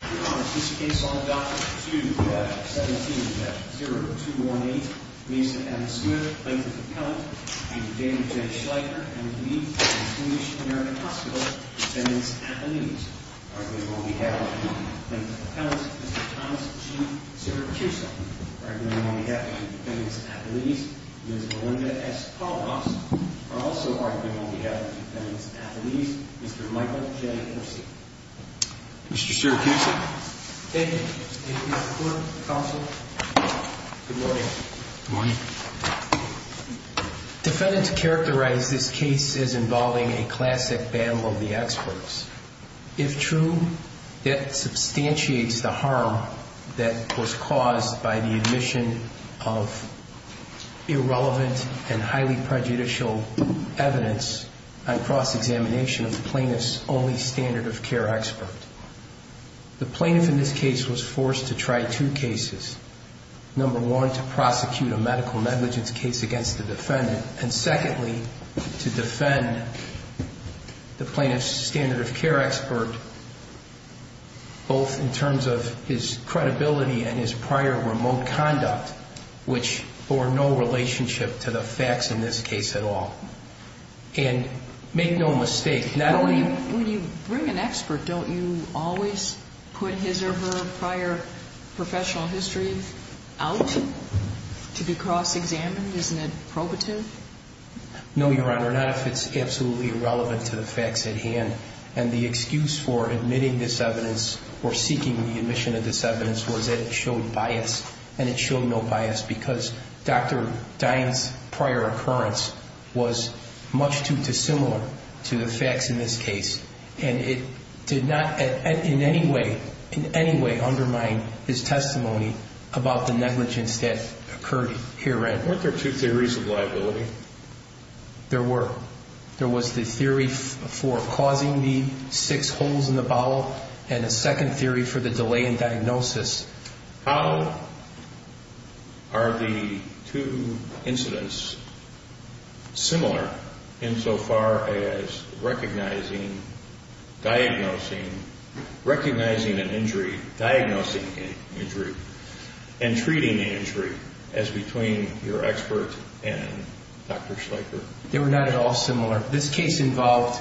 Dr. 2-17-0218 Mason M. Smith, plaintiff's appellant Mr. Daniel J. Schleicher, MD, St. Lucian American Hospital, defendants' athletes Arguably on behalf of the plaintiff's appellants, Mr. Thomas G. Siracusa Arguably on behalf of the defendants' athletes, Ms. Melinda S. Paulos Also arguably on behalf of the defendants' athletes, Mr. Michael J. Orsi Mr. Siracusa Thank you, Mr. Coon, counsel. Good morning. Good morning. Defendants characterize this case as involving a classic battle of the experts. If true, that substantiates the harm that was caused by the admission of irrelevant and highly prejudicial evidence on cross-examination of the plaintiff's only standard of care expert. The plaintiff in this case was forced to try two cases. Number one, to prosecute a medical negligence case against the defendant. And secondly, to defend the plaintiff's standard of care expert both in terms of his credibility and his prior remote conduct which bore no relationship to the facts in this case at all. And make no mistake, not only... When you bring an expert, don't you always put his or her prior professional history out to be cross-examined? Isn't it probative? No, Your Honor, not if it's absolutely irrelevant to the facts at hand. And the excuse for admitting this evidence or seeking the admission of this evidence was that it showed bias, and it showed no bias because Dr. Dine's prior occurrence was much too dissimilar to the facts in this case. And it did not in any way undermine his testimony about the negligence that occurred herein. Weren't there two theories of liability? There were. There was the theory for causing the six holes in the bottle and a second theory for the delay in diagnosis. How are the two incidents similar insofar as recognizing, diagnosing... recognizing an injury, diagnosing an injury, and treating the injury as between your expert and Dr. Schleicher? They were not at all similar. This case involved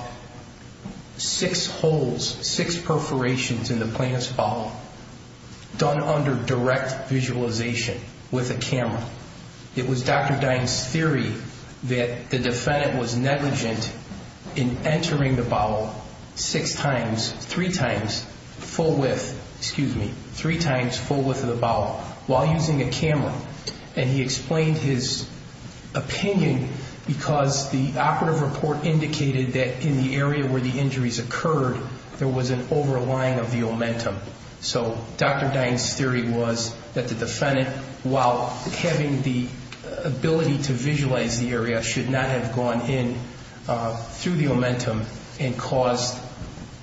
six holes, six perforations in the plaintiff's bottle. Done under direct visualization with a camera. It was Dr. Dine's theory that the defendant was negligent in entering the bottle six times, three times, full width, excuse me, three times full width of the bottle while using a camera, and he explained his opinion because the operative report indicated that in the area where the injuries occurred there was an overlying of the omentum. So Dr. Dine's theory was that the defendant, while having the ability to visualize the area, should not have gone in through the omentum and caused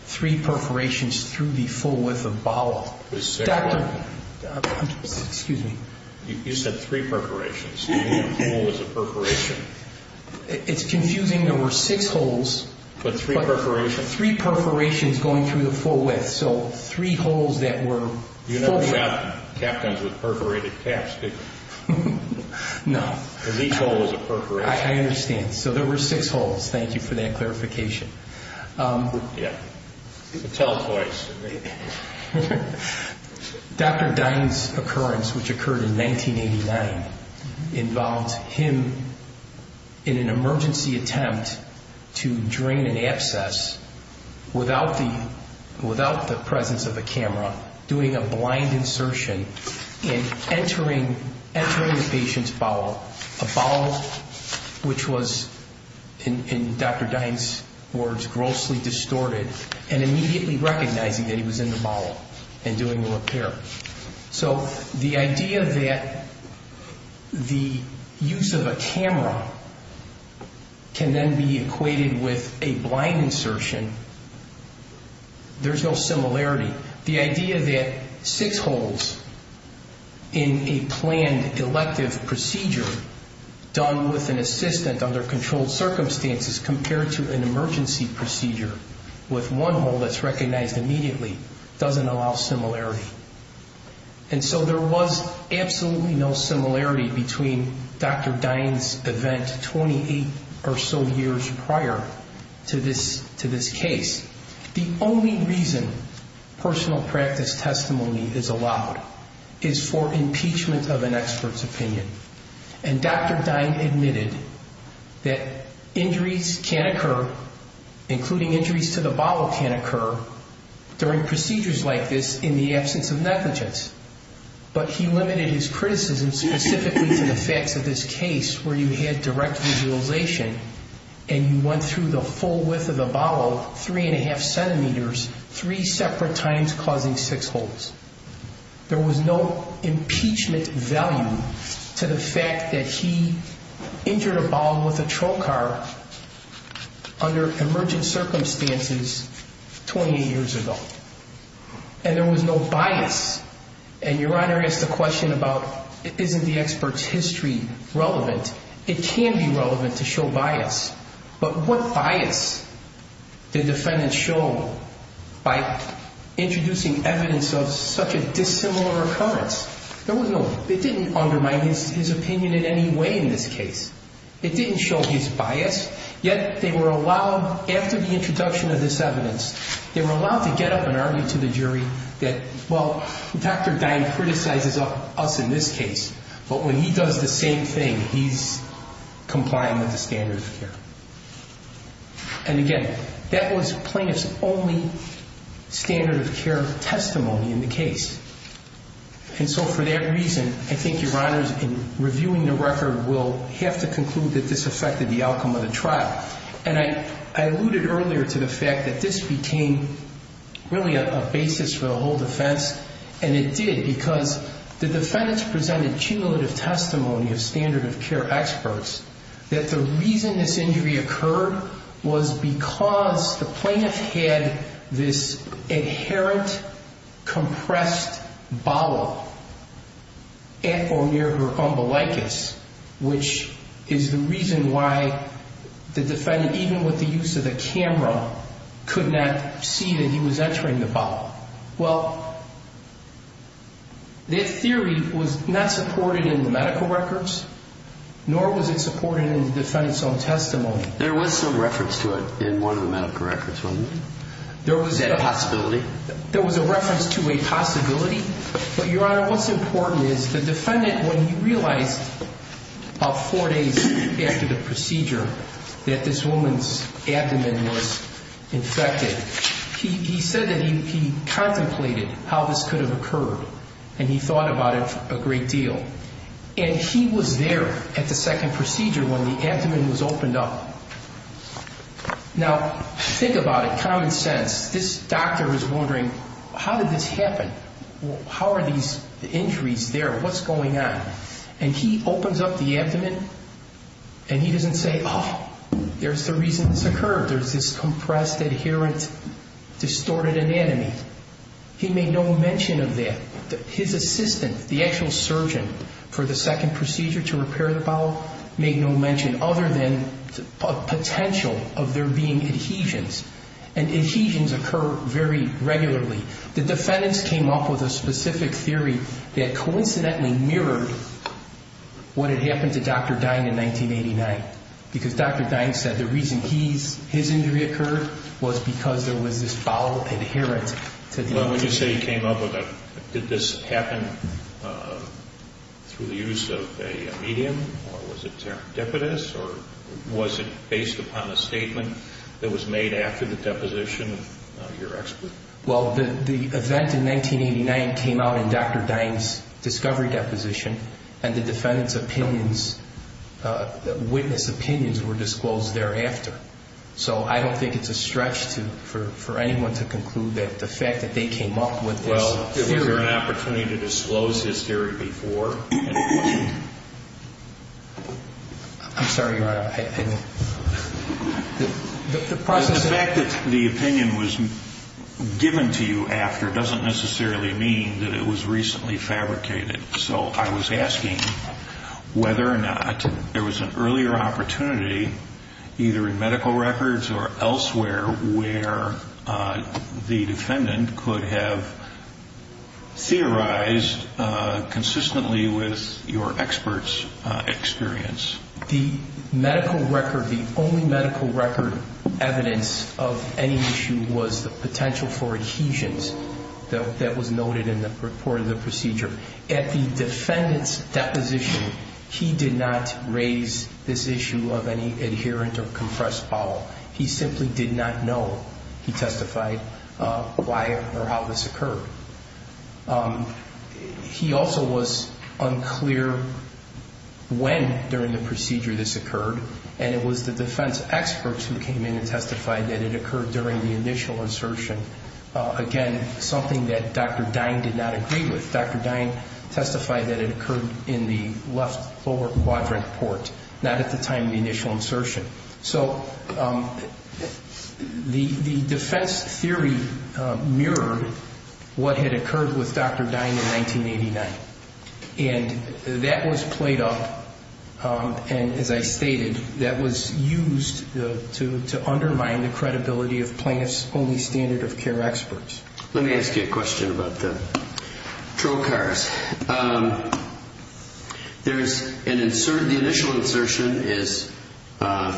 three perforations through the full width of the bottle. Excuse me. You said three perforations. What was a perforation? It's confusing. There were six holes. But three perforations? There were three perforations going through the full width, so three holes that were full width. You never have captains with perforated caps, do you? No. Because each hole is a perforation. I understand. So there were six holes. Thank you for that clarification. Yeah. It's a telepoise. Dr. Dine's occurrence, which occurred in 1989, involved him in an emergency attempt to drain an abscess without the presence of a camera, doing a blind insertion and entering the patient's bowel, a bowel which was, in Dr. Dine's words, grossly distorted, and immediately recognizing that he was in the bowel and doing the repair. So the idea that the use of a camera can then be equated with a blind insertion, there's no similarity. The idea that six holes in a planned elective procedure done with an assistant under controlled circumstances compared to an emergency procedure with one hole that's recognized immediately doesn't allow similarity. And so there was absolutely no similarity between Dr. Dine's event 28 or so years prior to this case. The only reason personal practice testimony is allowed is for impeachment of an expert's opinion. And Dr. Dine admitted that injuries can occur, including injuries to the bowel, can occur during procedures like this in the absence of negligence. But he limited his criticism specifically to the facts of this case where you had direct visualization and you went through the full width of the bowel, 3 1⁄2 centimeters, three separate times causing six holes. There was no impeachment value to the fact that he injured a bowel with a trocar under emergent circumstances 28 years ago. And there was no bias. And Your Honor asked the question about isn't the expert's history relevant? It can be relevant to show bias. But what bias did defendants show by introducing evidence of such a dissimilar occurrence? It didn't undermine his opinion in any way in this case. It didn't show his bias. Yet they were allowed, after the introduction of this evidence, they were allowed to get up and argue to the jury that, well, Dr. Dine criticizes us in this case, but when he does the same thing, he's complying with the standard of care. And again, that was plaintiff's only standard of care testimony in the case. And so for that reason, I think Your Honors, in reviewing the record, will have to conclude that this affected the outcome of the trial. And I alluded earlier to the fact that this became really a basis for the whole defense, and it did because the defendants presented cumulative testimony of standard of care experts that the reason this injury occurred was because the plaintiff had this inherent compressed bowel at or near her umbilicus, which is the reason why the defendant, even with the use of the camera, could not see that he was entering the bowel. Well, that theory was not supported in the medical records, nor was it supported in the defense on testimony. There was some reference to it in one of the medical records, wasn't there? Is that a possibility? There was a reference to a possibility, but Your Honor, what's important is the defendant, when he realized about four days after the procedure that this woman's abdomen was infected, he said that he contemplated how this could have occurred, and he thought about it a great deal. And he was there at the second procedure when the abdomen was opened up. Now, think about it. Common sense. This doctor was wondering, how did this happen? How are these injuries there? What's going on? And he opens up the abdomen, and he doesn't say, oh, there's the reason this occurred. There's this compressed, inherent, distorted anatomy. His assistant, the actual surgeon for the second procedure to repair the bowel, made no mention other than a potential of there being adhesions, and adhesions occur very regularly. The defendants came up with a specific theory that coincidentally mirrored what had happened to Dr. Dine in 1989, because Dr. Dine said the reason his injury occurred was because there was this bowel inherent to the abdomen. Well, when you say he came up with that, did this happen through the use of a medium, or was it serendipitous, or was it based upon a statement that was made after the deposition of your expert? Well, the event in 1989 came out in Dr. Dine's discovery deposition, and the defendants' opinions, witness opinions were disclosed thereafter. So I don't think it's a stretch for anyone to conclude that the fact that they came up with this theory... Well, was there an opportunity to disclose this theory before? I'm sorry, your Honor. The process... The fact that the opinion was given to you after doesn't necessarily mean that it was recently fabricated. So I was asking whether or not there was an earlier opportunity, either in medical records or elsewhere, where the defendant could have theorized consistently with your expert's experience. The medical record... The only medical record evidence of any issue was the potential for adhesions that was noted in the report of the procedure. At the defendant's deposition, he did not raise this issue of any adherent or compressed bowel. He simply did not know, he testified, why or how this occurred. He also was unclear when during the procedure this occurred, and it was the defense experts who came in and testified that it occurred during the initial insertion. Again, something that Dr. Dine did not agree with. Dr. Dine testified that it occurred in the left lower quadrant port, not at the time of the initial insertion. So the defense theory mirrored what had occurred with Dr. Dine in 1989. And that was played up, and as I stated, that was used to undermine the credibility of plaintiff's only standard of care experts. Let me ask you a question about the patrol cars. The initial insertion is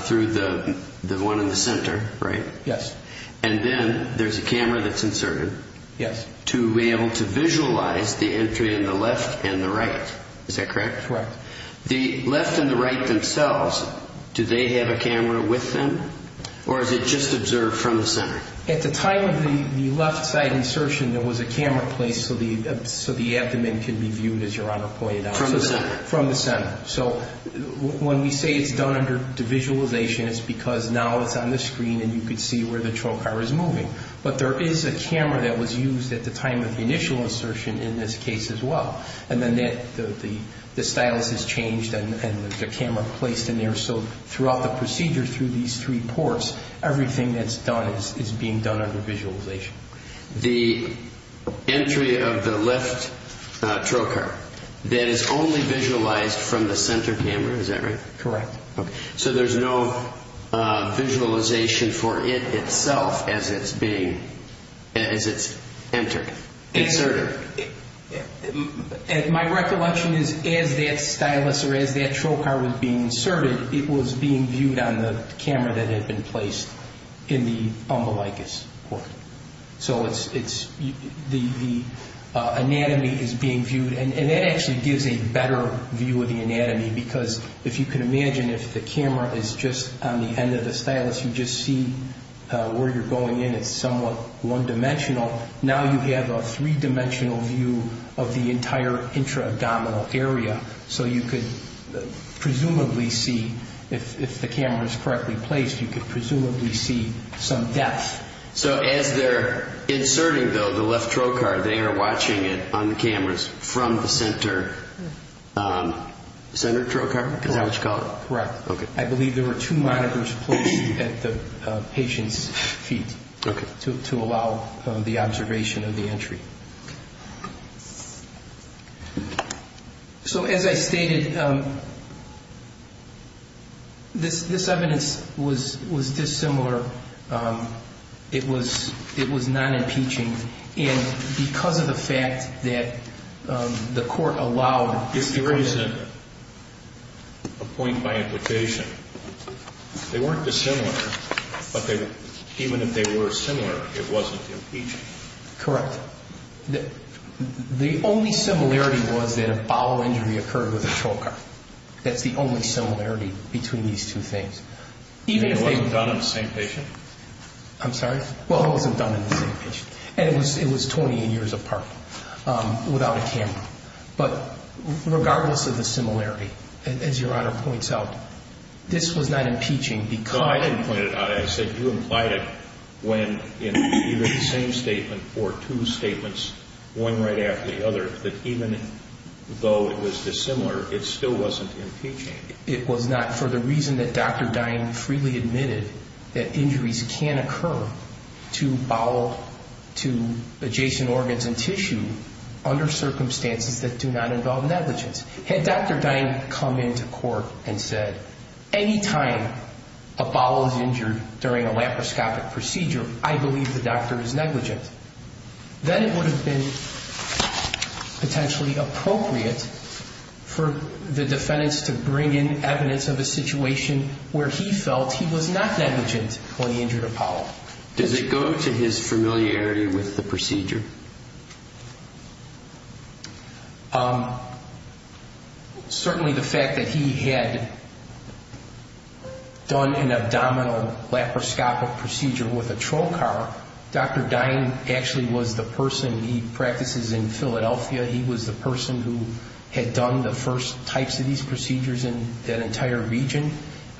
through the one in the center, right? Yes. And then there's a camera that's inserted. Yes. To be able to visualize the entry in the left and the right. Is that correct? Correct. The left and the right themselves, do they have a camera with them, or is it just observed from the center? At the time of the left side insertion, there was a camera placed so the abdomen can be viewed, as Your Honor pointed out. From the center. From the center. So when we say it's done under the visualization, it's because now it's on the screen, and you can see where the patrol car is moving. But there is a camera that was used at the time of the initial insertion in this case as well. And then the stylus is changed and the camera placed in there, so throughout the procedure through these three ports, everything that's done is being done under visualization. The entry of the left patrol car, that is only visualized from the center camera, is that right? Correct. Okay. So there's no visualization for it itself as it's entered, inserted. My recollection is as that stylus or as that patrol car was being inserted, it was being viewed on the camera that had been placed in the umbilicus port. So the anatomy is being viewed, and that actually gives a better view of the anatomy because if you can imagine if the camera is just on the end of the stylus, you just see where you're going in. It's somewhat one-dimensional. Now you have a three-dimensional view of the entire intra-abdominal area. So you could presumably see, if the camera is correctly placed, you could presumably see some depth. So as they're inserting, though, the left patrol car, they are watching it on the cameras from the center patrol car? Is that what you call it? Correct. Okay. I believe there were two monitors placed at the patient's feet to allow the observation of the entry. So as I stated, this evidence was dissimilar. It was non-impeaching. And because of the fact that the court allowed this to happen. If there is a point by implication, they weren't dissimilar, but even if they were similar, it wasn't impeaching. Correct. The only similarity was that a bowel injury occurred with the patrol car. That's the only similarity between these two things. You mean it wasn't done in the same patient? I'm sorry? Well, it wasn't done in the same patient. And it was 28 years apart without a camera. But regardless of the similarity, as Your Honor points out, this was not impeaching because... No, I didn't point it out. I said you implied it when in either the same statement or two statements, one right after the other, that even though it was dissimilar, it still wasn't impeaching. It was not for the reason that Dr. Dine freely admitted that injuries can occur to adjacent organs and tissue under circumstances that do not involve negligence. Had Dr. Dine come into court and said, anytime a bowel is injured during a laparoscopic procedure, I believe the doctor is negligent. Then it would have been potentially appropriate for the defendants to bring in evidence of a situation where he felt he was not negligent when he injured a bowel. Does it go to his familiarity with the procedure? Certainly the fact that he had done an abdominal laparoscopic procedure with a troll car. Dr. Dine actually was the person... He practices in Philadelphia. He was the person who had done the first types of these procedures in that entire region.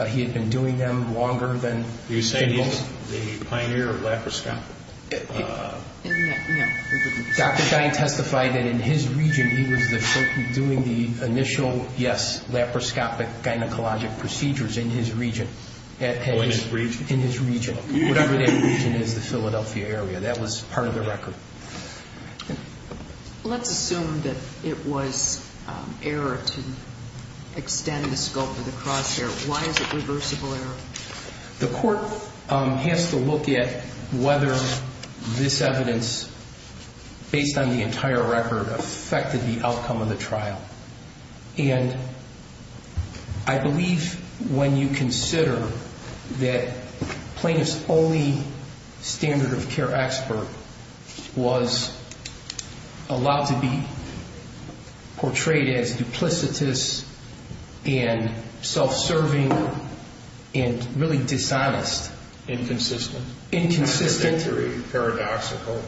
He had been doing them longer than most. Are you saying he's the pioneer of laparoscopic? No. Dr. Dine testified that in his region, he was doing the initial, yes, laparoscopic gynecologic procedures in his region. Oh, in his region? In his region. Whatever that region is, the Philadelphia area. That was part of the record. Let's assume that it was error to extend the scope of the crosshair. Why is it reversible error? The court has to look at whether this evidence, based on the entire record, affected the outcome of the trial. And I believe when you consider that Plaintiff's only standard of care expert was allowed to be portrayed as duplicitous and self-serving and really dishonest. Inconsistent. Inconsistent. Contradictory, paradoxical,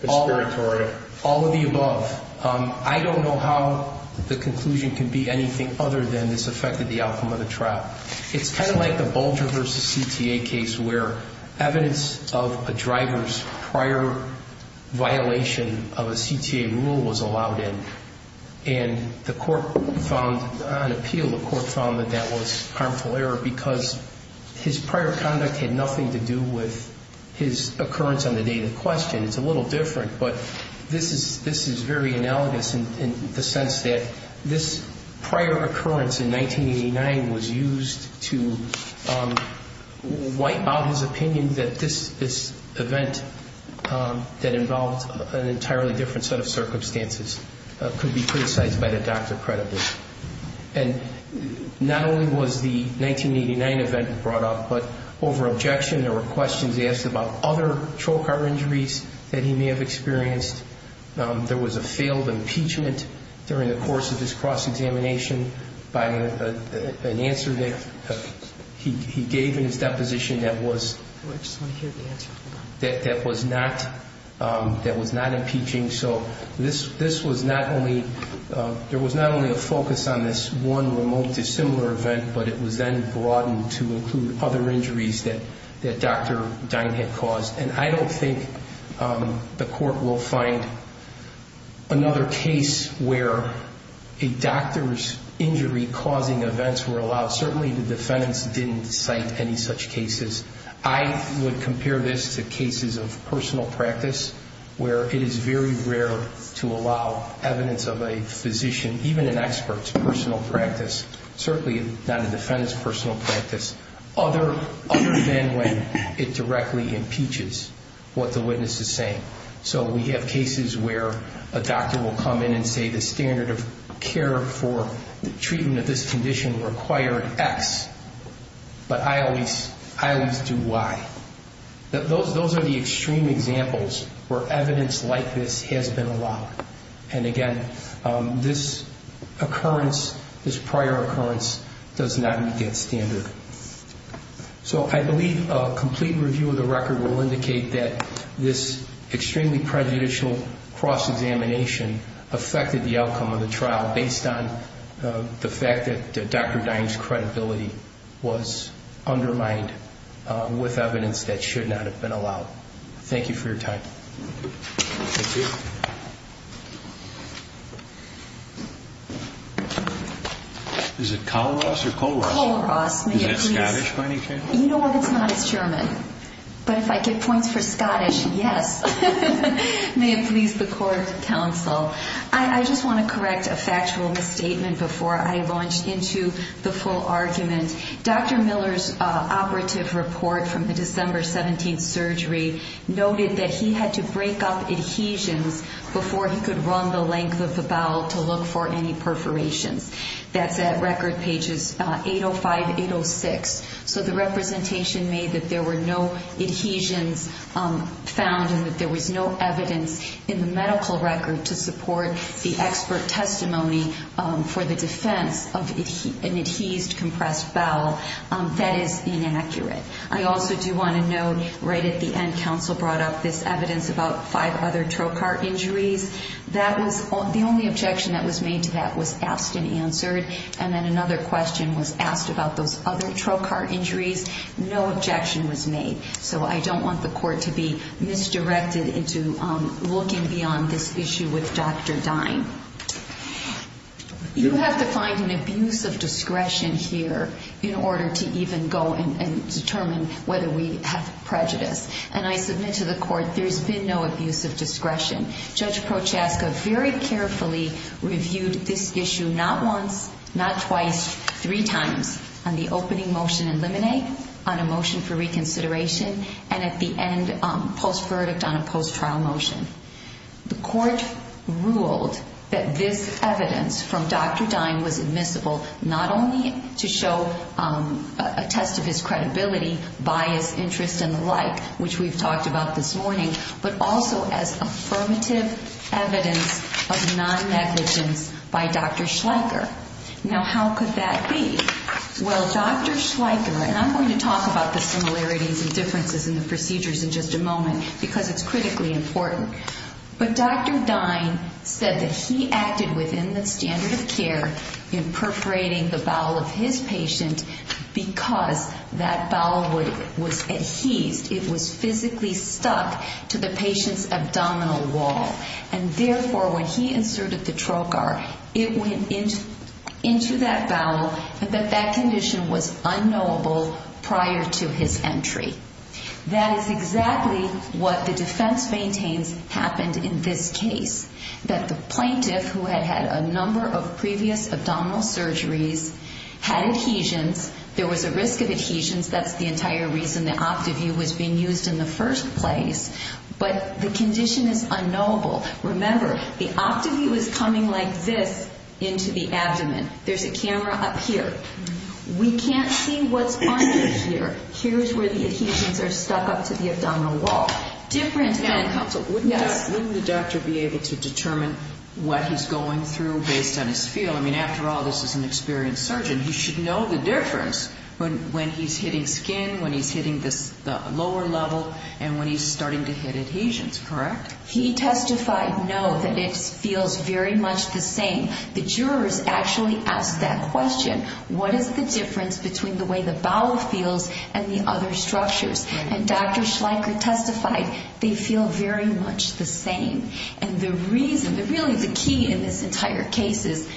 conspiratorial. All of the above. I don't know how the conclusion can be anything other than this affected the outcome of the trial. It's kind of like the Bulger v. CTA case where evidence of a driver's prior violation of a CTA rule was allowed in. And the court found, on appeal, the court found that that was harmful error because his prior conduct had nothing to do with his occurrence on the day of the question. It's a little different. But this is very analogous in the sense that this prior occurrence in 1989 was used to wipe out his opinion that this event that involved an entirely different set of circumstances could be criticized by the doctor credibly. And not only was the 1989 event brought up, but over objection there were questions asked about other troll car injuries that he may have experienced. There was a failed impeachment during the course of his cross-examination by an answer that he gave in his deposition that was not impeaching. So there was not only a focus on this one remote dissimilar event, but it was then broadened to include other injuries that Dr. Dine had caused. And I don't think the court will find another case where a doctor's injury-causing events were allowed. Certainly the defendants didn't cite any such cases. I would compare this to cases of personal practice where it is very rare to allow evidence of a physician, even an expert's personal practice, certainly not a defendant's personal practice, other than when it directly impeaches what the witness is saying. So we have cases where a doctor will come in and say the standard of care for the treatment of this condition required X, but I always do Y. Those are the extreme examples where evidence like this has been allowed. And again, this occurrence, this prior occurrence, does not meet that standard. So I believe a complete review of the record will indicate that this extremely prejudicial cross-examination affected the outcome of the trial based on the fact that Dr. Dine's credibility was undermined with evidence that should not have been allowed. Thank you for your time. Thank you. Is it Kolaros or Kolaros? Kolaros. Is that Scottish by any chance? You know what? No, it's not. It's German. But if I get points for Scottish, yes. May it please the court, counsel. I just want to correct a factual misstatement before I launch into the full argument. Dr. Miller's operative report from the December 17th surgery noted that he had to break up adhesions before he could run the length of the bowel to look for any perforations. That's at record pages 805, 806. So the representation made that there were no adhesions found and that there was no evidence in the medical record to support the expert testimony for the defense of an adhesed, compressed bowel. That is inaccurate. I also do want to note right at the end, counsel brought up this evidence about five other trocar injuries. The only objection that was made to that was asked and answered, and then another question was asked about those other trocar injuries. No objection was made. So I don't want the court to be misdirected into looking beyond this issue with Dr. Dine. You have to find an abuse of discretion here in order to even go and determine whether we have prejudice. Judge Prochaska very carefully reviewed this issue not once, not twice, three times, on the opening motion in Limine, on a motion for reconsideration, and at the end, post-verdict on a post-trial motion. The court ruled that this evidence from Dr. Dine was admissible not only to show a test of his credibility, bias, interest, and the like, which we've talked about this morning, but also as affirmative evidence of non-negligence by Dr. Schleicher. Now, how could that be? Well, Dr. Schleicher, and I'm going to talk about the similarities and differences in the procedures in just a moment because it's critically important, but Dr. Dine said that he acted within the standard of care in perforating the bowel of his patient because that bowel was adhesed. It was physically stuck to the patient's abdominal wall, and therefore, when he inserted the trocar, it went into that bowel, and that that condition was unknowable prior to his entry. That is exactly what the defense maintains happened in this case, that the plaintiff, who had had a number of previous abdominal surgeries, had adhesions. There was a risk of adhesions. That's the entire reason the OptiView was being used in the first place, but the condition is unknowable. Remember, the OptiView is coming like this into the abdomen. There's a camera up here. We can't see what's under here. Here's where the adhesions are stuck up to the abdominal wall. Different than counsel. Wouldn't the doctor be able to determine what he's going through based on his feel? I mean, after all, this is an experienced surgeon. He should know the difference when he's hitting skin, when he's hitting the lower level, and when he's starting to hit adhesions, correct? He testified no, that it feels very much the same. The jurors actually asked that question. What is the difference between the way the bowel feels and the other structures? And Dr. Schleicher testified they feel very much the same. And the reason, really the key in this entire case is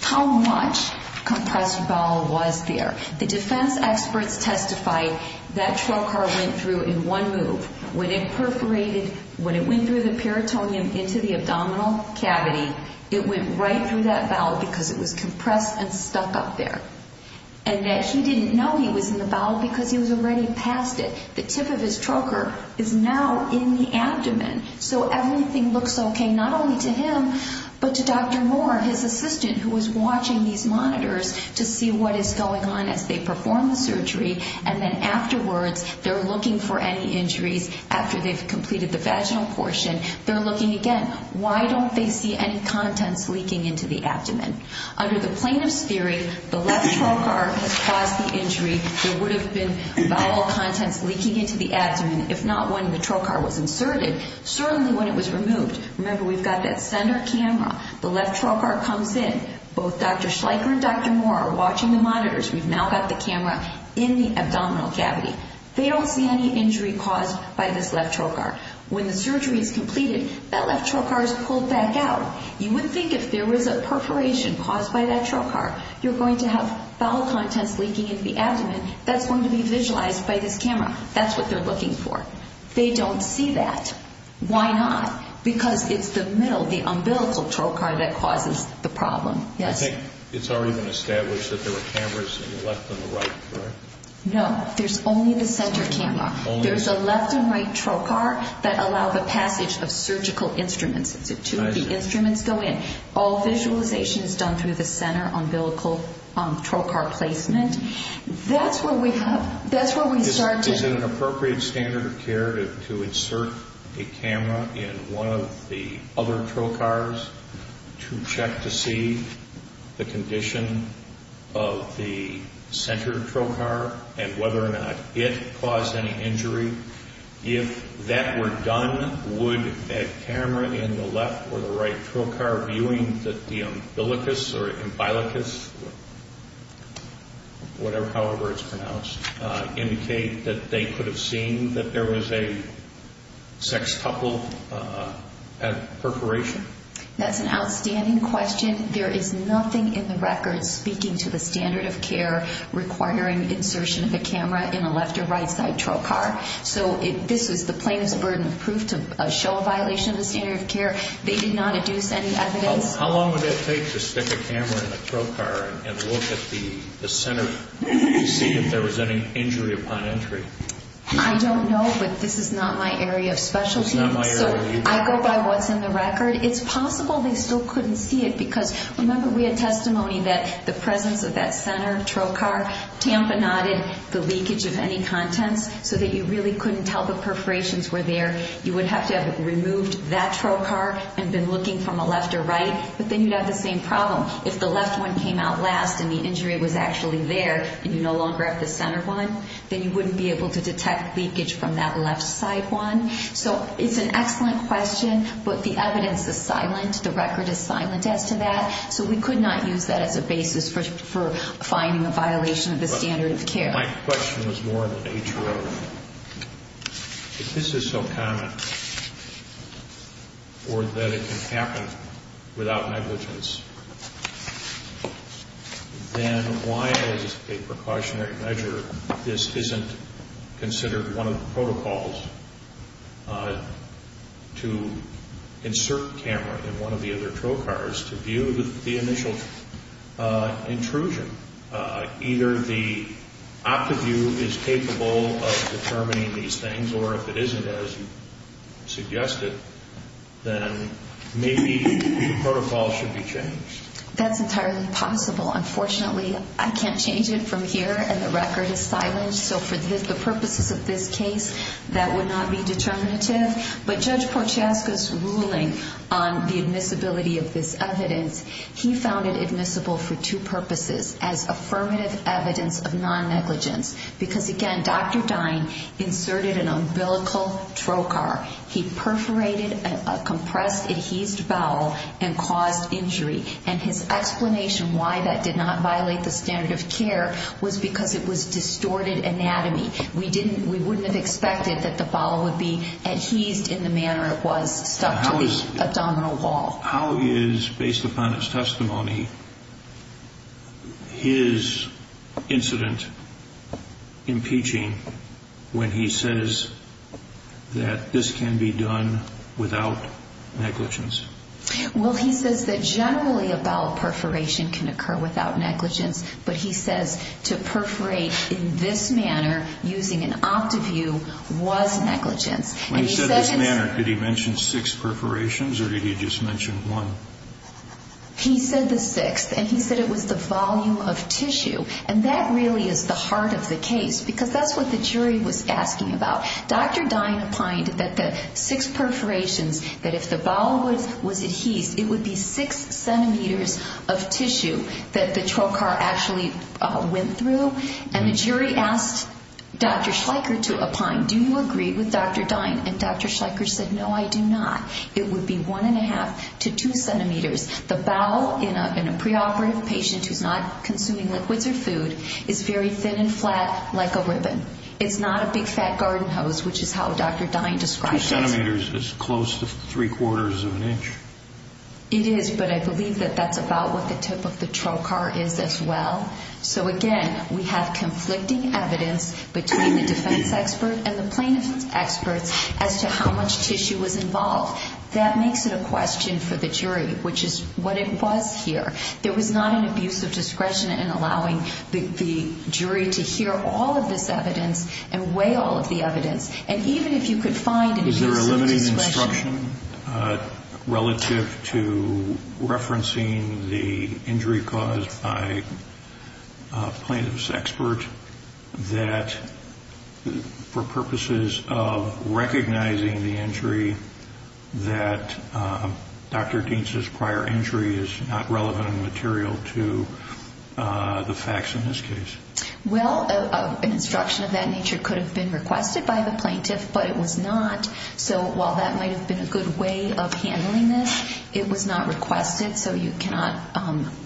how much compressed bowel was there. The defense experts testified that trocar went through in one move. When it perforated, when it went through the peritoneum into the abdominal cavity, it went right through that bowel because it was compressed and stuck up there. And that he didn't know he was in the bowel because he was already past it. So everything looks okay, not only to him, but to Dr. Moore, his assistant, who was watching these monitors to see what is going on as they perform the surgery. And then afterwards, they're looking for any injuries after they've completed the vaginal portion. They're looking again. Why don't they see any contents leaking into the abdomen? Under the plaintiff's theory, the left trocar has caused the injury. There would have been bowel contents leaking into the abdomen, if not when the trocar was inserted, certainly when it was removed. Remember, we've got that center camera. The left trocar comes in. Both Dr. Schleicher and Dr. Moore are watching the monitors. We've now got the camera in the abdominal cavity. They don't see any injury caused by this left trocar. When the surgery is completed, that left trocar is pulled back out. You would think if there was a perforation caused by that trocar, you're going to have bowel contents leaking into the abdomen. That's going to be visualized by this camera. That's what they're looking for. They don't see that. Why not? Because it's the middle, the umbilical trocar that causes the problem. Yes? I think it's already been established that there were cameras in the left and the right, correct? No. There's only the center camera. There's a left and right trocar that allow the passage of surgical instruments. The instruments go in. All visualization is done through the center umbilical trocar placement. That's where we start to... Is it an appropriate standard of care to insert a camera in one of the other trocars to check to see the condition of the center trocar and whether or not it caused any injury? If that were done, would a camera in the left or the right trocar viewing the umbilicus or umbilicus, however it's pronounced, indicate that they could have seen that there was a sextuple at perforation? That's an outstanding question. There is nothing in the record speaking to the standard of care requiring insertion of a camera in a left or right side trocar. So this is the plainest burden of proof to show a violation of the standard of care. They did not deduce any evidence. How long would it take to stick a camera in a trocar and look at the center to see if there was any injury upon entry? I don't know, but this is not my area of specialty. It's not my area of expertise. So I go by what's in the record. It's possible they still couldn't see it because, remember, we had testimony that the presence of that center trocar tamponaded the leakage of any contents so that you really couldn't tell the perforations were there. You would have to have removed that trocar and been looking from a left or right, but then you'd have the same problem. If the left one came out last and the injury was actually there and you no longer have the center one, then you wouldn't be able to detect leakage from that left side one. So it's an excellent question, but the evidence is silent. The record is silent as to that. So we could not use that as a basis for finding a violation of the standard of care. My question was more in the nature of if this is so common or that it can happen without negligence, then why is it a precautionary measure if this isn't considered one of the protocols to insert a camera in one of the other trocars to view the initial intrusion, either the OptiView is capable of determining these things or if it isn't, as you suggested, then maybe the protocol should be changed. That's entirely possible. Unfortunately, I can't change it from here, and the record is silent. So for the purposes of this case, that would not be determinative. But Judge Porciaska's ruling on the admissibility of this evidence, he found it admissible for two purposes as affirmative evidence of non-negligence because, again, Dr. Dine inserted an umbilical trocar. He perforated a compressed adhesed bowel and caused injury. And his explanation why that did not violate the standard of care was because it was distorted anatomy. We wouldn't have expected that the bowel would be adhesed in the manner it was stuck to the abdominal wall. How is, based upon his testimony, his incident impeaching when he says that this can be done without negligence? Well, he says that generally a bowel perforation can occur without negligence, but he says to perforate in this manner using an OptiView was negligence. When he said this manner, did he mention six perforations or did he just mention one? He said the sixth, and he said it was the volume of tissue, and that really is the heart of the case because that's what the jury was asking about. Dr. Dine opined that the six perforations, that if the bowel was adhesed, it would be six centimeters of tissue that the trocar actually went through. And the jury asked Dr. Schleicher to opine, do you agree with Dr. Dine? And Dr. Schleicher said, no, I do not. It would be one and a half to two centimeters. The bowel in a preoperative patient who's not consuming liquids or food is very thin and flat like a ribbon. It's not a big, fat garden hose, which is how Dr. Dine described it. Two centimeters is close to three-quarters of an inch. It is, but I believe that that's about what the tip of the trocar is as well. So, again, we have conflicting evidence between the defense expert and the plaintiff's experts as to how much tissue was involved. That makes it a question for the jury, which is what it was here. There was not an abuse of discretion in allowing the jury to hear all of this evidence and weigh all of the evidence. And even if you could find an abuse of discretion. Relative to referencing the injury caused by a plaintiff's expert, that for purposes of recognizing the injury, that Dr. Dine's prior injury is not relevant and material to the facts in this case. Well, an instruction of that nature could have been requested by the plaintiff, but it was not, so while that might have been a good way of handling this, it was not requested, so you cannot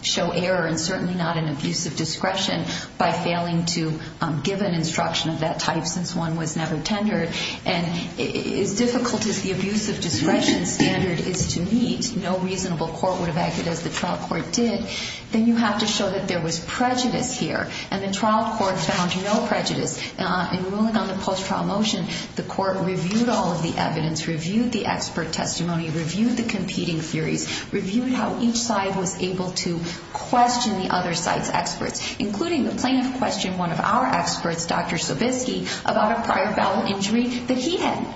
show error and certainly not an abuse of discretion by failing to give an instruction of that type since one was never tendered. And as difficult as the abuse of discretion standard is to meet, no reasonable court would have acted as the trial court did. Then you have to show that there was prejudice here, and the trial court found no prejudice. In ruling on the post-trial motion, the court reviewed all of the evidence, reviewed the expert testimony, reviewed the competing theories, reviewed how each side was able to question the other side's experts, including the plaintiff questioned one of our experts, Dr. Sobiski, about a prior bowel injury that he had.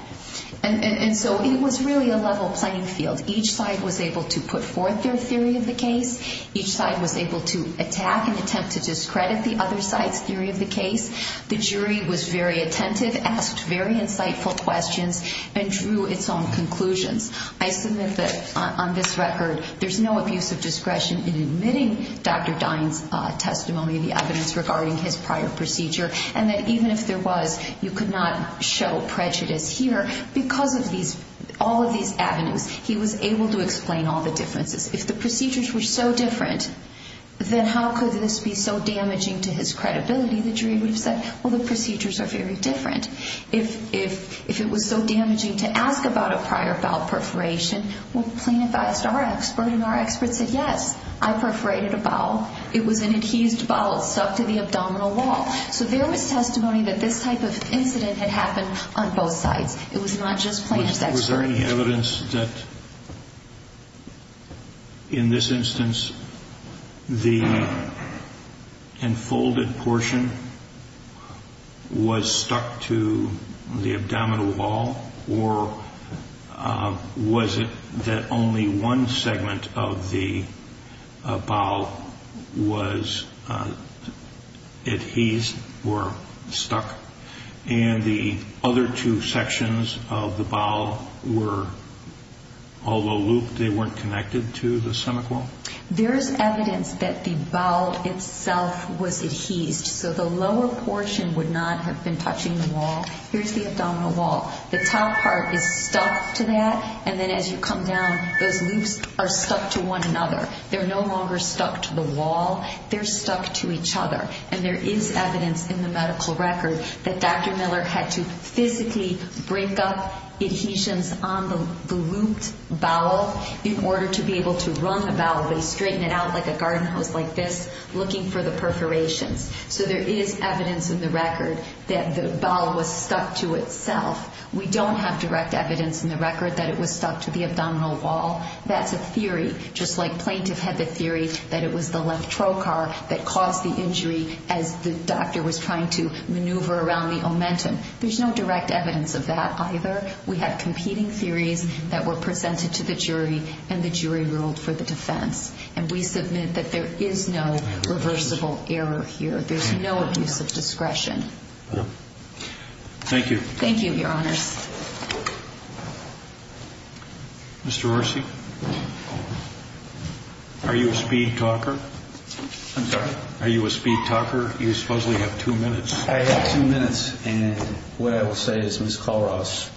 And so it was really a level playing field. Each side was able to put forth their theory of the case. Each side was able to attack and attempt to discredit the other side's theory of the case. The jury was very attentive, asked very insightful questions, and drew its own conclusions. I submit that on this record there's no abuse of discretion in admitting Dr. Dine's testimony, the evidence regarding his prior procedure, and that even if there was, you could not show prejudice here because of all of these avenues. He was able to explain all the differences. If the procedures were so different, then how could this be so damaging to his credibility? The jury would have said, well, the procedures are very different. If it was so damaging to ask about a prior bowel perforation, well, the plaintiff asked our expert, and our expert said, yes, I perforated a bowel. It was an adhesed bowel stuck to the abdominal wall. So there was testimony that this type of incident had happened on both sides. It was not just plaintiff's expert. Was there any evidence that, in this instance, the enfolded portion was stuck to the abdominal wall, or was it that only one segment of the bowel was adhesed or stuck, and the other two sections of the bowel were all low looped? They weren't connected to the semicolon? There is evidence that the bowel itself was adhesed, so the lower portion would not have been touching the wall. Here's the abdominal wall. The top part is stuck to that, and then as you come down, those loops are stuck to one another. They're no longer stuck to the wall. They're stuck to each other, and there is evidence in the medical record that Dr. Miller had to physically break up adhesions on the looped bowel in order to be able to run the bowel. They straighten it out like a garden hose like this, looking for the perforations. So there is evidence in the record that the bowel was stuck to itself. We don't have direct evidence in the record that it was stuck to the abdominal wall. That's a theory, just like plaintiff had the theory that it was the left trocar that caused the injury as the doctor was trying to maneuver around the omentum. There's no direct evidence of that either. We have competing theories that were presented to the jury, and the jury ruled for the defense, and we submit that there is no reversible error here. There's no abuse of discretion. Thank you. Thank you, Your Honors. Mr. Orsi? Are you a speed talker? I'm sorry? Are you a speed talker? You supposedly have two minutes. I have two minutes, and what I will say is Ms. Kollross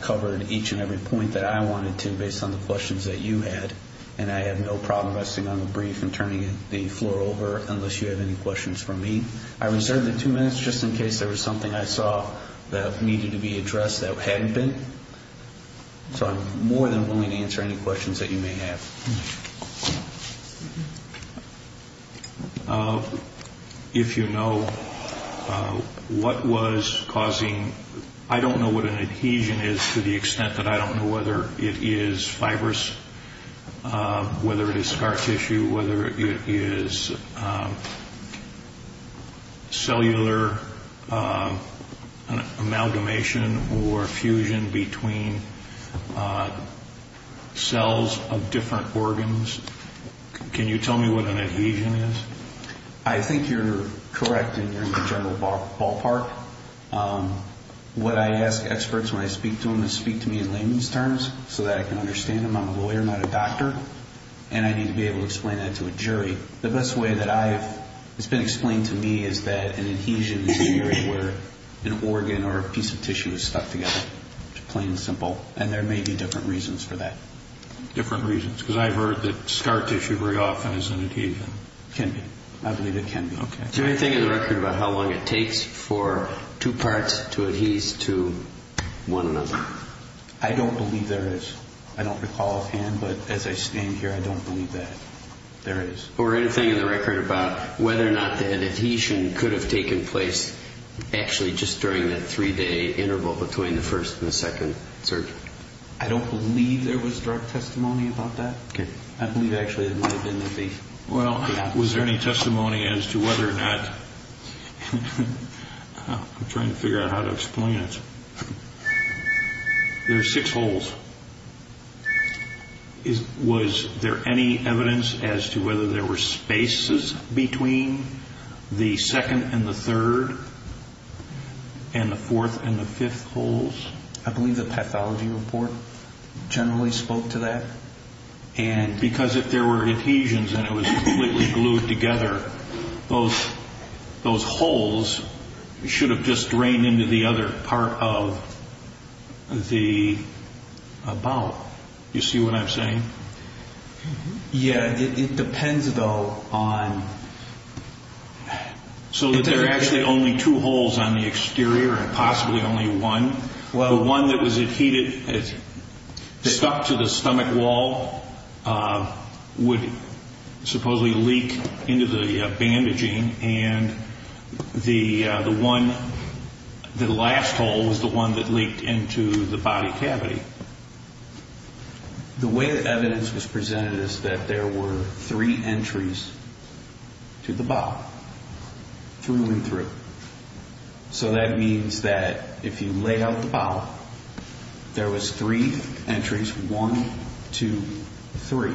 covered each and every point that I wanted to based on the questions that you had, and I have no problem resting on the brief and turning the floor over unless you have any questions for me. I reserved the two minutes just in case there was something I saw that needed to be addressed that hadn't been. So I'm more than willing to answer any questions that you may have. If you know what was causing, I don't know what an adhesion is to the extent that I don't know whether it is fibrous, whether it is scar tissue, whether it is cellular amalgamation or fusion between cells of different organs. Can you tell me what an adhesion is? I think you're correct, and you're in the general ballpark. What I ask experts when I speak to them is speak to me in layman's terms so that I can understand them. I'm a lawyer, not a doctor, and I need to be able to explain that to a jury. The best way that it's been explained to me is that an adhesion is a period where an organ or a piece of tissue is stuck together, plain and simple, and there may be different reasons for that. Different reasons, because I've heard that scar tissue very often is an adhesion. It can be. I believe it can be. Is there anything in the record about how long it takes for two parts to adhese to one another? I don't believe there is. I don't recall offhand, but as I stand here, I don't believe that there is. Or anything in the record about whether or not the adhesion could have taken place actually just during that three-day interval between the first and the second surgery? I don't believe there was drug testimony about that. I believe actually there may have been. Well, was there any testimony as to whether or not? I'm trying to figure out how to explain it. There are six holes. Was there any evidence as to whether there were spaces between the second and the third and the fourth and the fifth holes? I believe the pathology report generally spoke to that. And because if there were adhesions and it was completely glued together, those holes should have just drained into the other part of the bowel. Do you see what I'm saying? Yeah, it depends, though, on... So that there are actually only two holes on the exterior and possibly only one. The one that was adhesive stuck to the stomach wall would supposedly leak into the bandaging, and the one, the last hole was the one that leaked into the body cavity. The way that evidence was presented is that there were three entries to the bowel, through and through. So that means that if you laid out the bowel, there was three entries, one, two, three.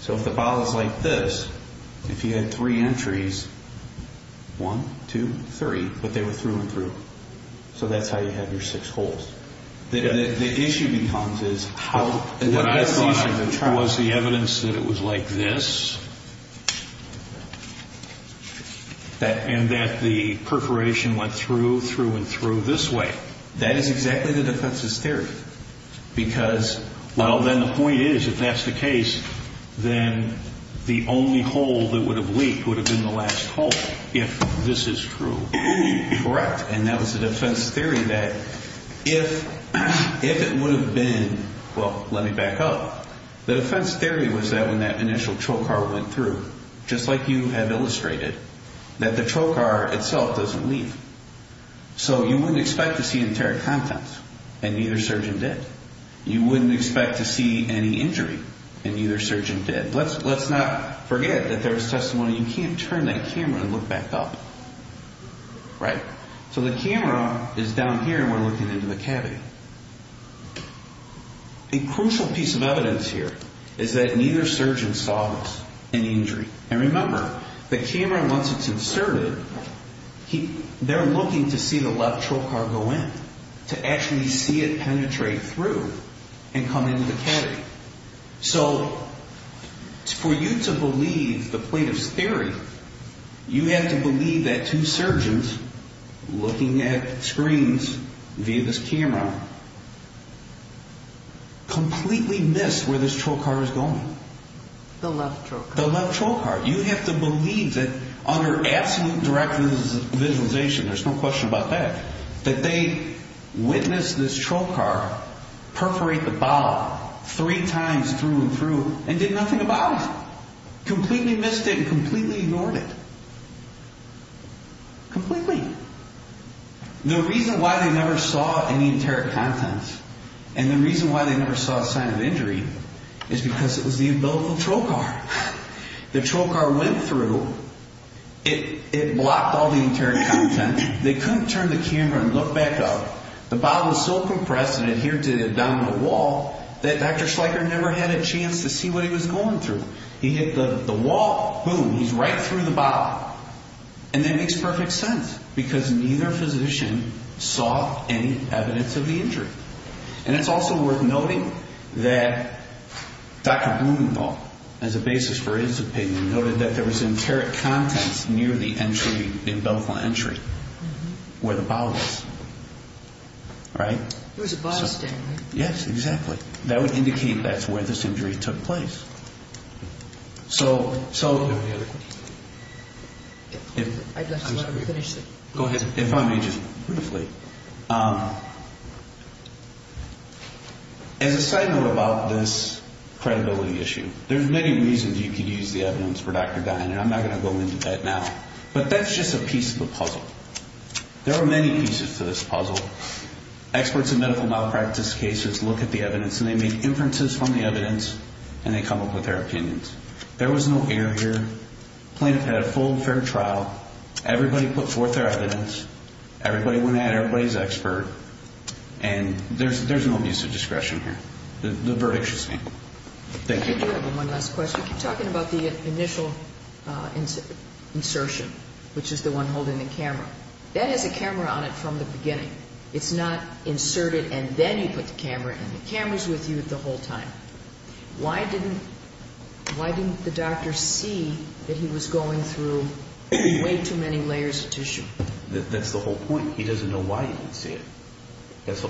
So if the bowel is like this, if you had three entries, one, two, three, but they were through and through. So that's how you have your six holes. The issue becomes is how... What I thought was the evidence that it was like this... And that the perforation went through, through, and through this way. That is exactly the defense's theory. Because, well, then the point is, if that's the case, then the only hole that would have leaked would have been the last hole, if this is true. Correct. And that was the defense's theory that if it would have been... Well, let me back up. The defense's theory was that when that initial trocar went through, just like you have illustrated, that the trocar itself doesn't leave. So you wouldn't expect to see enteric contents, and neither surgeon did. You wouldn't expect to see any injury, and neither surgeon did. Let's not forget that there was testimony. You can't turn that camera and look back up. Right? So the camera is down here, and we're looking into the cavity. A crucial piece of evidence here is that neither surgeon saw an injury. And remember, the camera, once it's inserted, they're looking to see the left trocar go in, to actually see it penetrate through and come into the cavity. So for you to believe the plaintiff's theory, you have to believe that two surgeons looking at screens via this camera completely missed where this trocar was going. The left trocar. The left trocar. You have to believe that under absolute direct visualization, there's no question about that, that they witnessed this trocar perforate the bowel three times through and through and did nothing about it. Completely missed it and completely ignored it. Completely. The reason why they never saw any enteric contents, and the reason why they never saw a sign of injury, is because it was the umbilical trocar. The trocar went through. It blocked all the enteric contents. They couldn't turn the camera and look back up. The bowel was so compressed and adhered to the abdominal wall that Dr. Schleicher never had a chance to see what he was going through. He hit the wall, boom, he's right through the bowel. And that makes perfect sense because neither physician saw any evidence of the injury. And it's also worth noting that Dr. Blumenthal, as a basis for his opinion, noted that there was enteric contents near the entry, the umbilical entry, where the bowel is. Right? There was a bowel stain, right? Yes, exactly. That would indicate that's where this injury took place. So, so. Go ahead. If I may just briefly. As a side note about this credibility issue, there's many reasons you could use the evidence for Dr. Dine, and I'm not going to go into that now. But that's just a piece of the puzzle. There are many pieces to this puzzle. Experts in medical malpractice cases look at the evidence, and they make inferences from the evidence, and they come up with their opinions. There was no error here. Plaintiff had a full, fair trial. Everybody put forth their evidence. Everybody went at it. Everybody's an expert. And there's no use of discretion here. The verdict should stand. Thank you. I have one last question. You keep talking about the initial insertion, which is the one holding the camera. That has a camera on it from the beginning. It's not inserted and then you put the camera in. The camera's with you the whole time. Why didn't the doctor see that he was going through way too many layers of tissue? That's the whole point. He doesn't know why he didn't see it.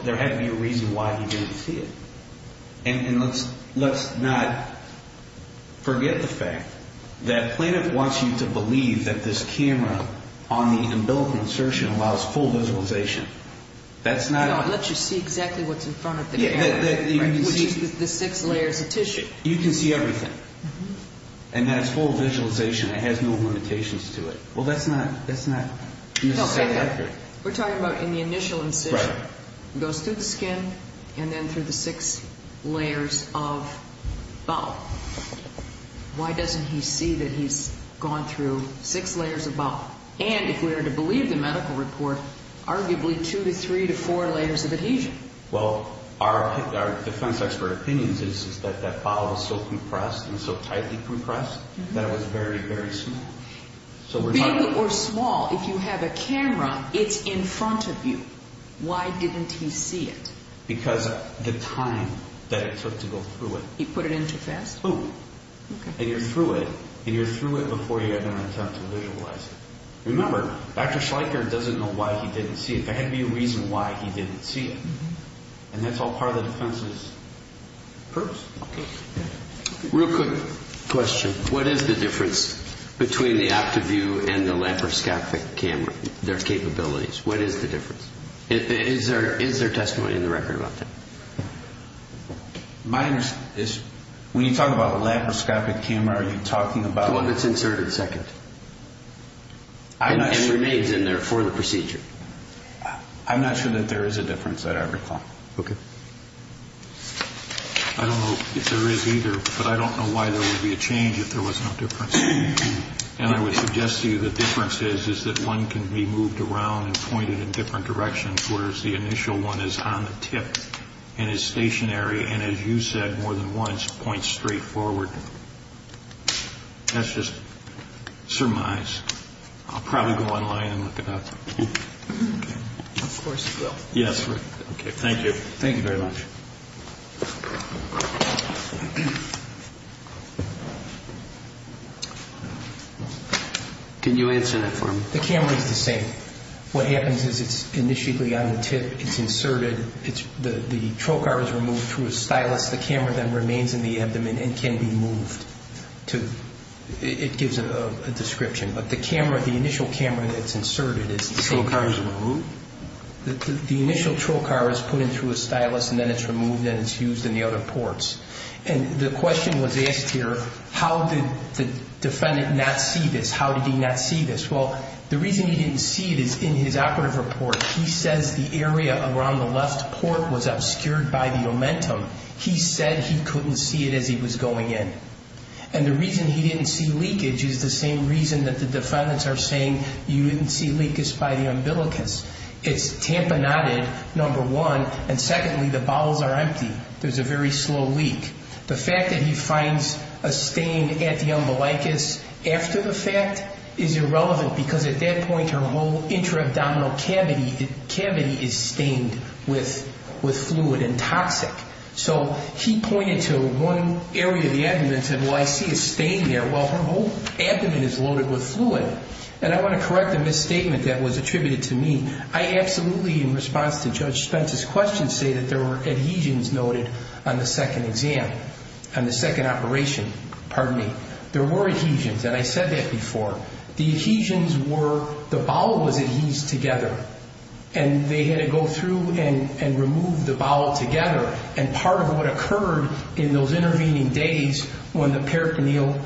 There had to be a reason why he didn't see it. on the umbilical insertion allows full visualization. No, it lets you see exactly what's in front of the camera, which is the six layers of tissue. You can see everything. And that's full visualization. It has no limitations to it. Well, that's not necessarily accurate. We're talking about in the initial incision. Right. It goes through the skin and then through the six layers of bowel. Why doesn't he see that he's gone through six layers of bowel? And if we were to believe the medical report, arguably two to three to four layers of adhesion. Well, our defense expert opinions is that that bowel was so compressed and so tightly compressed that it was very, very small. Big or small, if you have a camera, it's in front of you. Why didn't he see it? Because of the time that it took to go through it. He put it in too fast? Boom. And you're through it. And you're through it before you had an attempt to visualize it. Remember, Dr. Schleicher doesn't know why he didn't see it. There had to be a reason why he didn't see it. And that's all part of the defense's purpose. Real quick question. What is the difference between the OptiView and the laparoscopic camera, their capabilities? What is the difference? Is there testimony in the record about that? When you talk about a laparoscopic camera, are you talking about the one that's inserted second and remains in there for the procedure? I'm not sure that there is a difference that I recall. Okay. I don't know if there is either, but I don't know why there would be a change if there was no difference. And I would suggest to you the difference is that one can be moved around and pointed in different directions, whereas the initial one is on the tip and is stationary and, as you said more than once, points straight forward. That's just surmise. I'll probably go online and look it up. Of course you will. Yes. Okay. Thank you. Thank you very much. Can you answer that for me? The camera is the same. What happens is it's initially on the tip. It's inserted. The trocar is removed through a stylus. The camera then remains in the abdomen and can be moved. It gives a description. But the camera, the initial camera that's inserted is the same. The trocar is removed? The initial trocar is put in through a stylus, and then it's removed and it's used in the other ports. And the question was asked here, how did the defendant not see this? How did he not see this? Well, the reason he didn't see it is in his operative report. He says the area around the left port was obscured by the omentum. He said he couldn't see it as he was going in. And the reason he didn't see leakage is the same reason that the defendants are saying you didn't see leakage by the umbilicus. It's tamponaded, number one, and secondly, the bowels are empty. There's a very slow leak. The fact that he finds a stain at the umbilicus after the fact is irrelevant because at that point her whole intra-abdominal cavity is stained with fluid and toxic. So he pointed to one area of the abdomen and said, well, I see a stain there. Well, her whole abdomen is loaded with fluid. And I want to correct the misstatement that was attributed to me. I absolutely, in response to Judge Spence's question, say that there were adhesions noted on the second exam, on the second operation, pardon me. There were adhesions, and I said that before. The adhesions were the bowel was adhesed together, and they had to go through and remove the bowel together. And part of what occurred in those intervening days when the peritoneal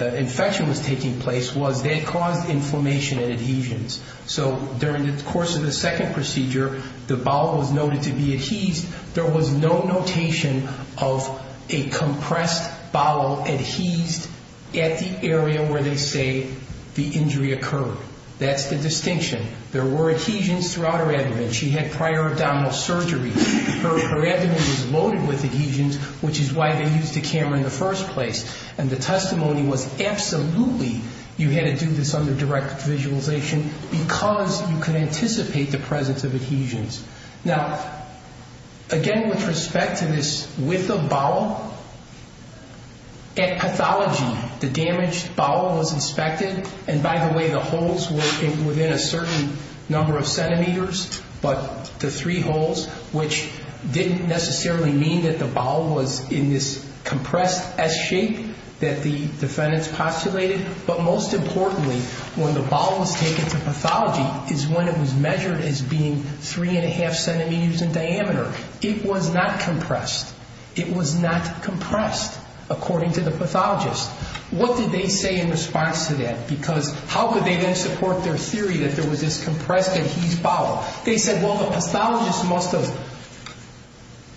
infection was taking place was they caused inflammation and adhesions. So during the course of the second procedure, the bowel was noted to be adhesed. There was no notation of a compressed bowel adhesed at the area where they say the injury occurred. That's the distinction. There were adhesions throughout her abdomen. She had prior abdominal surgery. Her abdomen was loaded with adhesions, which is why they used a camera in the first place. And the testimony was absolutely you had to do this under direct visualization because you could anticipate the presence of adhesions. Now, again, with respect to this width of bowel, at pathology, the damaged bowel was inspected. And by the way, the holes were within a certain number of centimeters, but the three holes, which didn't necessarily mean that the bowel was in this compressed S shape that the defendants postulated. But most importantly, when the bowel was taken to pathology is when it was measured as being 3.5 centimeters in diameter. It was not compressed. It was not compressed, according to the pathologist. What did they say in response to that? Because how could they then support their theory that there was this compressed adhesed bowel? They said, well, the pathologist must have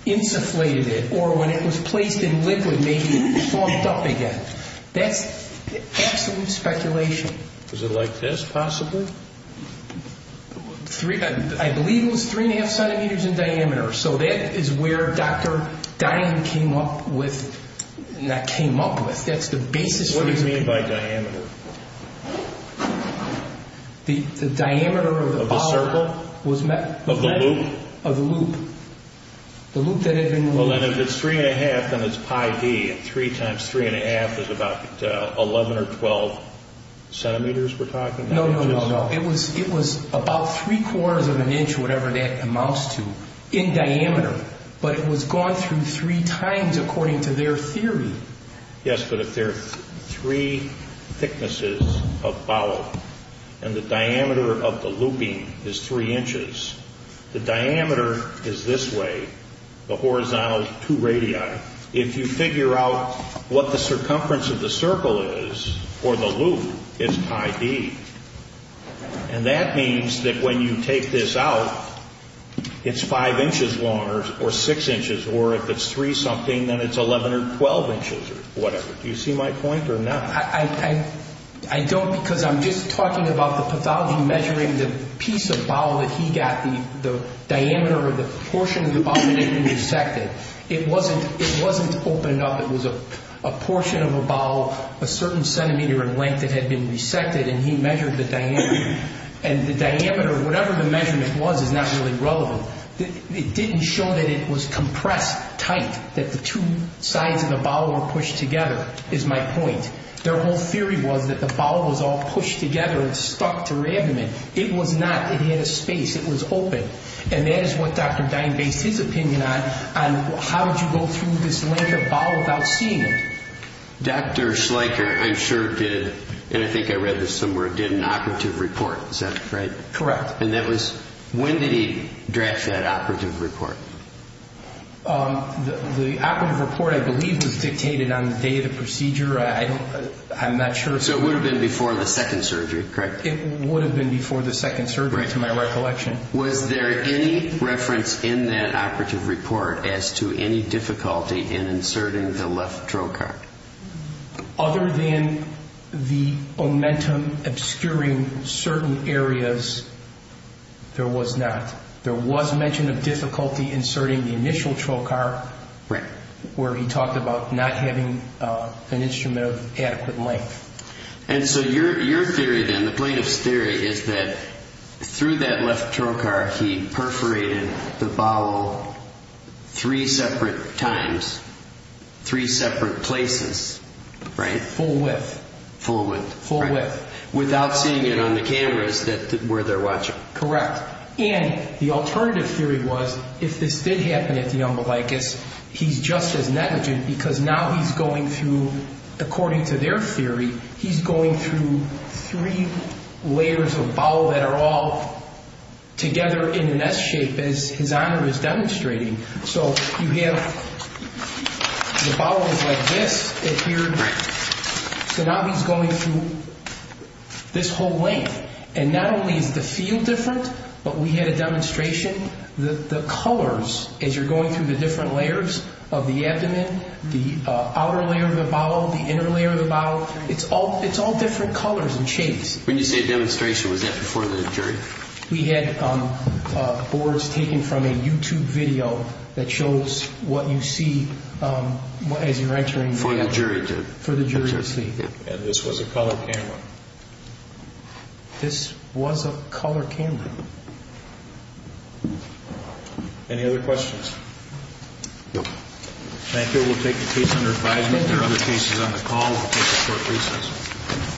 insufflated it, or when it was placed in liquid, maybe it puffed up again. That's absolute speculation. Was it like this, possibly? I believe it was 3.5 centimeters in diameter. So that is where Dr. Dine came up with, not came up with, that's the basis. What do you mean by diameter? The diameter of the bowel. Of the circle? Of the loop? Of the loop. The loop that had been removed. Well, then if it's 3.5, then it's pi D, and 3 times 3.5 is about 11 or 12 centimeters, we're talking. No, no, no, no. It was about three-quarters of an inch, whatever that amounts to, in diameter. But it was gone through three times, according to their theory. Yes, but if there are three thicknesses of bowel, and the diameter of the looping is three inches, the diameter is this way, the horizontal is two radii. If you figure out what the circumference of the circle is, or the loop, it's pi D. And that means that when you take this out, it's five inches long, or six inches, or if it's three-something, then it's 11 or 12 inches, or whatever. Do you see my point or not? I don't, because I'm just talking about the pathology measuring the piece of bowel that he got, the diameter of the portion of the bowel that had been resected. It wasn't opened up. It was a portion of a bowel a certain centimeter in length that had been resected, and he measured the diameter. And the diameter, whatever the measurement was, is not really relevant. It didn't show that it was compressed tight, that the two sides of the bowel were pushed together, is my point. Their whole theory was that the bowel was all pushed together and stuck to her abdomen. It was not. It had a space. It was open. And that is what Dr. Dine based his opinion on, on how would you go through this length of bowel without seeing it. Dr. Schleicher, I'm sure, did, and I think I read this somewhere, did an operative report. Is that right? Correct. And that was, when did he draft that operative report? The operative report, I believe, was dictated on the day of the procedure. I don't, I'm not sure. So it would have been before the second surgery, correct? It would have been before the second surgery, to my recollection. Was there any reference in that operative report as to any difficulty in inserting the left trocar? Other than the omentum obscuring certain areas, there was not. There was mention of difficulty inserting the initial trocar, where he talked about not having an instrument of adequate length. And so your theory then, the plaintiff's theory, is that through that left trocar he perforated the bowel three separate times, three separate places, right? Full width. Full width. Full width. Without seeing it on the cameras where they're watching. Correct. And the alternative theory was, if this did happen at the umbilicus, he's just as negligent because now he's going through, according to their theory, he's going through three layers of bowel that are all together in an S shape, as His Honor is demonstrating. So you have the bowel is like this, and here, so now he's going through this whole length. And not only is the feel different, but we had a demonstration that the colors, as you're going through the different layers of the abdomen, the outer layer of the bowel, the inner layer of the bowel, it's all different colors and shapes. When you say demonstration, was that before the jury? We had boards taken from a YouTube video that shows what you see as you're entering. For the jury to see. For the jury to see. And this was a color camera. This was a color camera. Any other questions? No. Thank you. We'll take a case under advisement. There are other cases on the call. We'll take a short recess.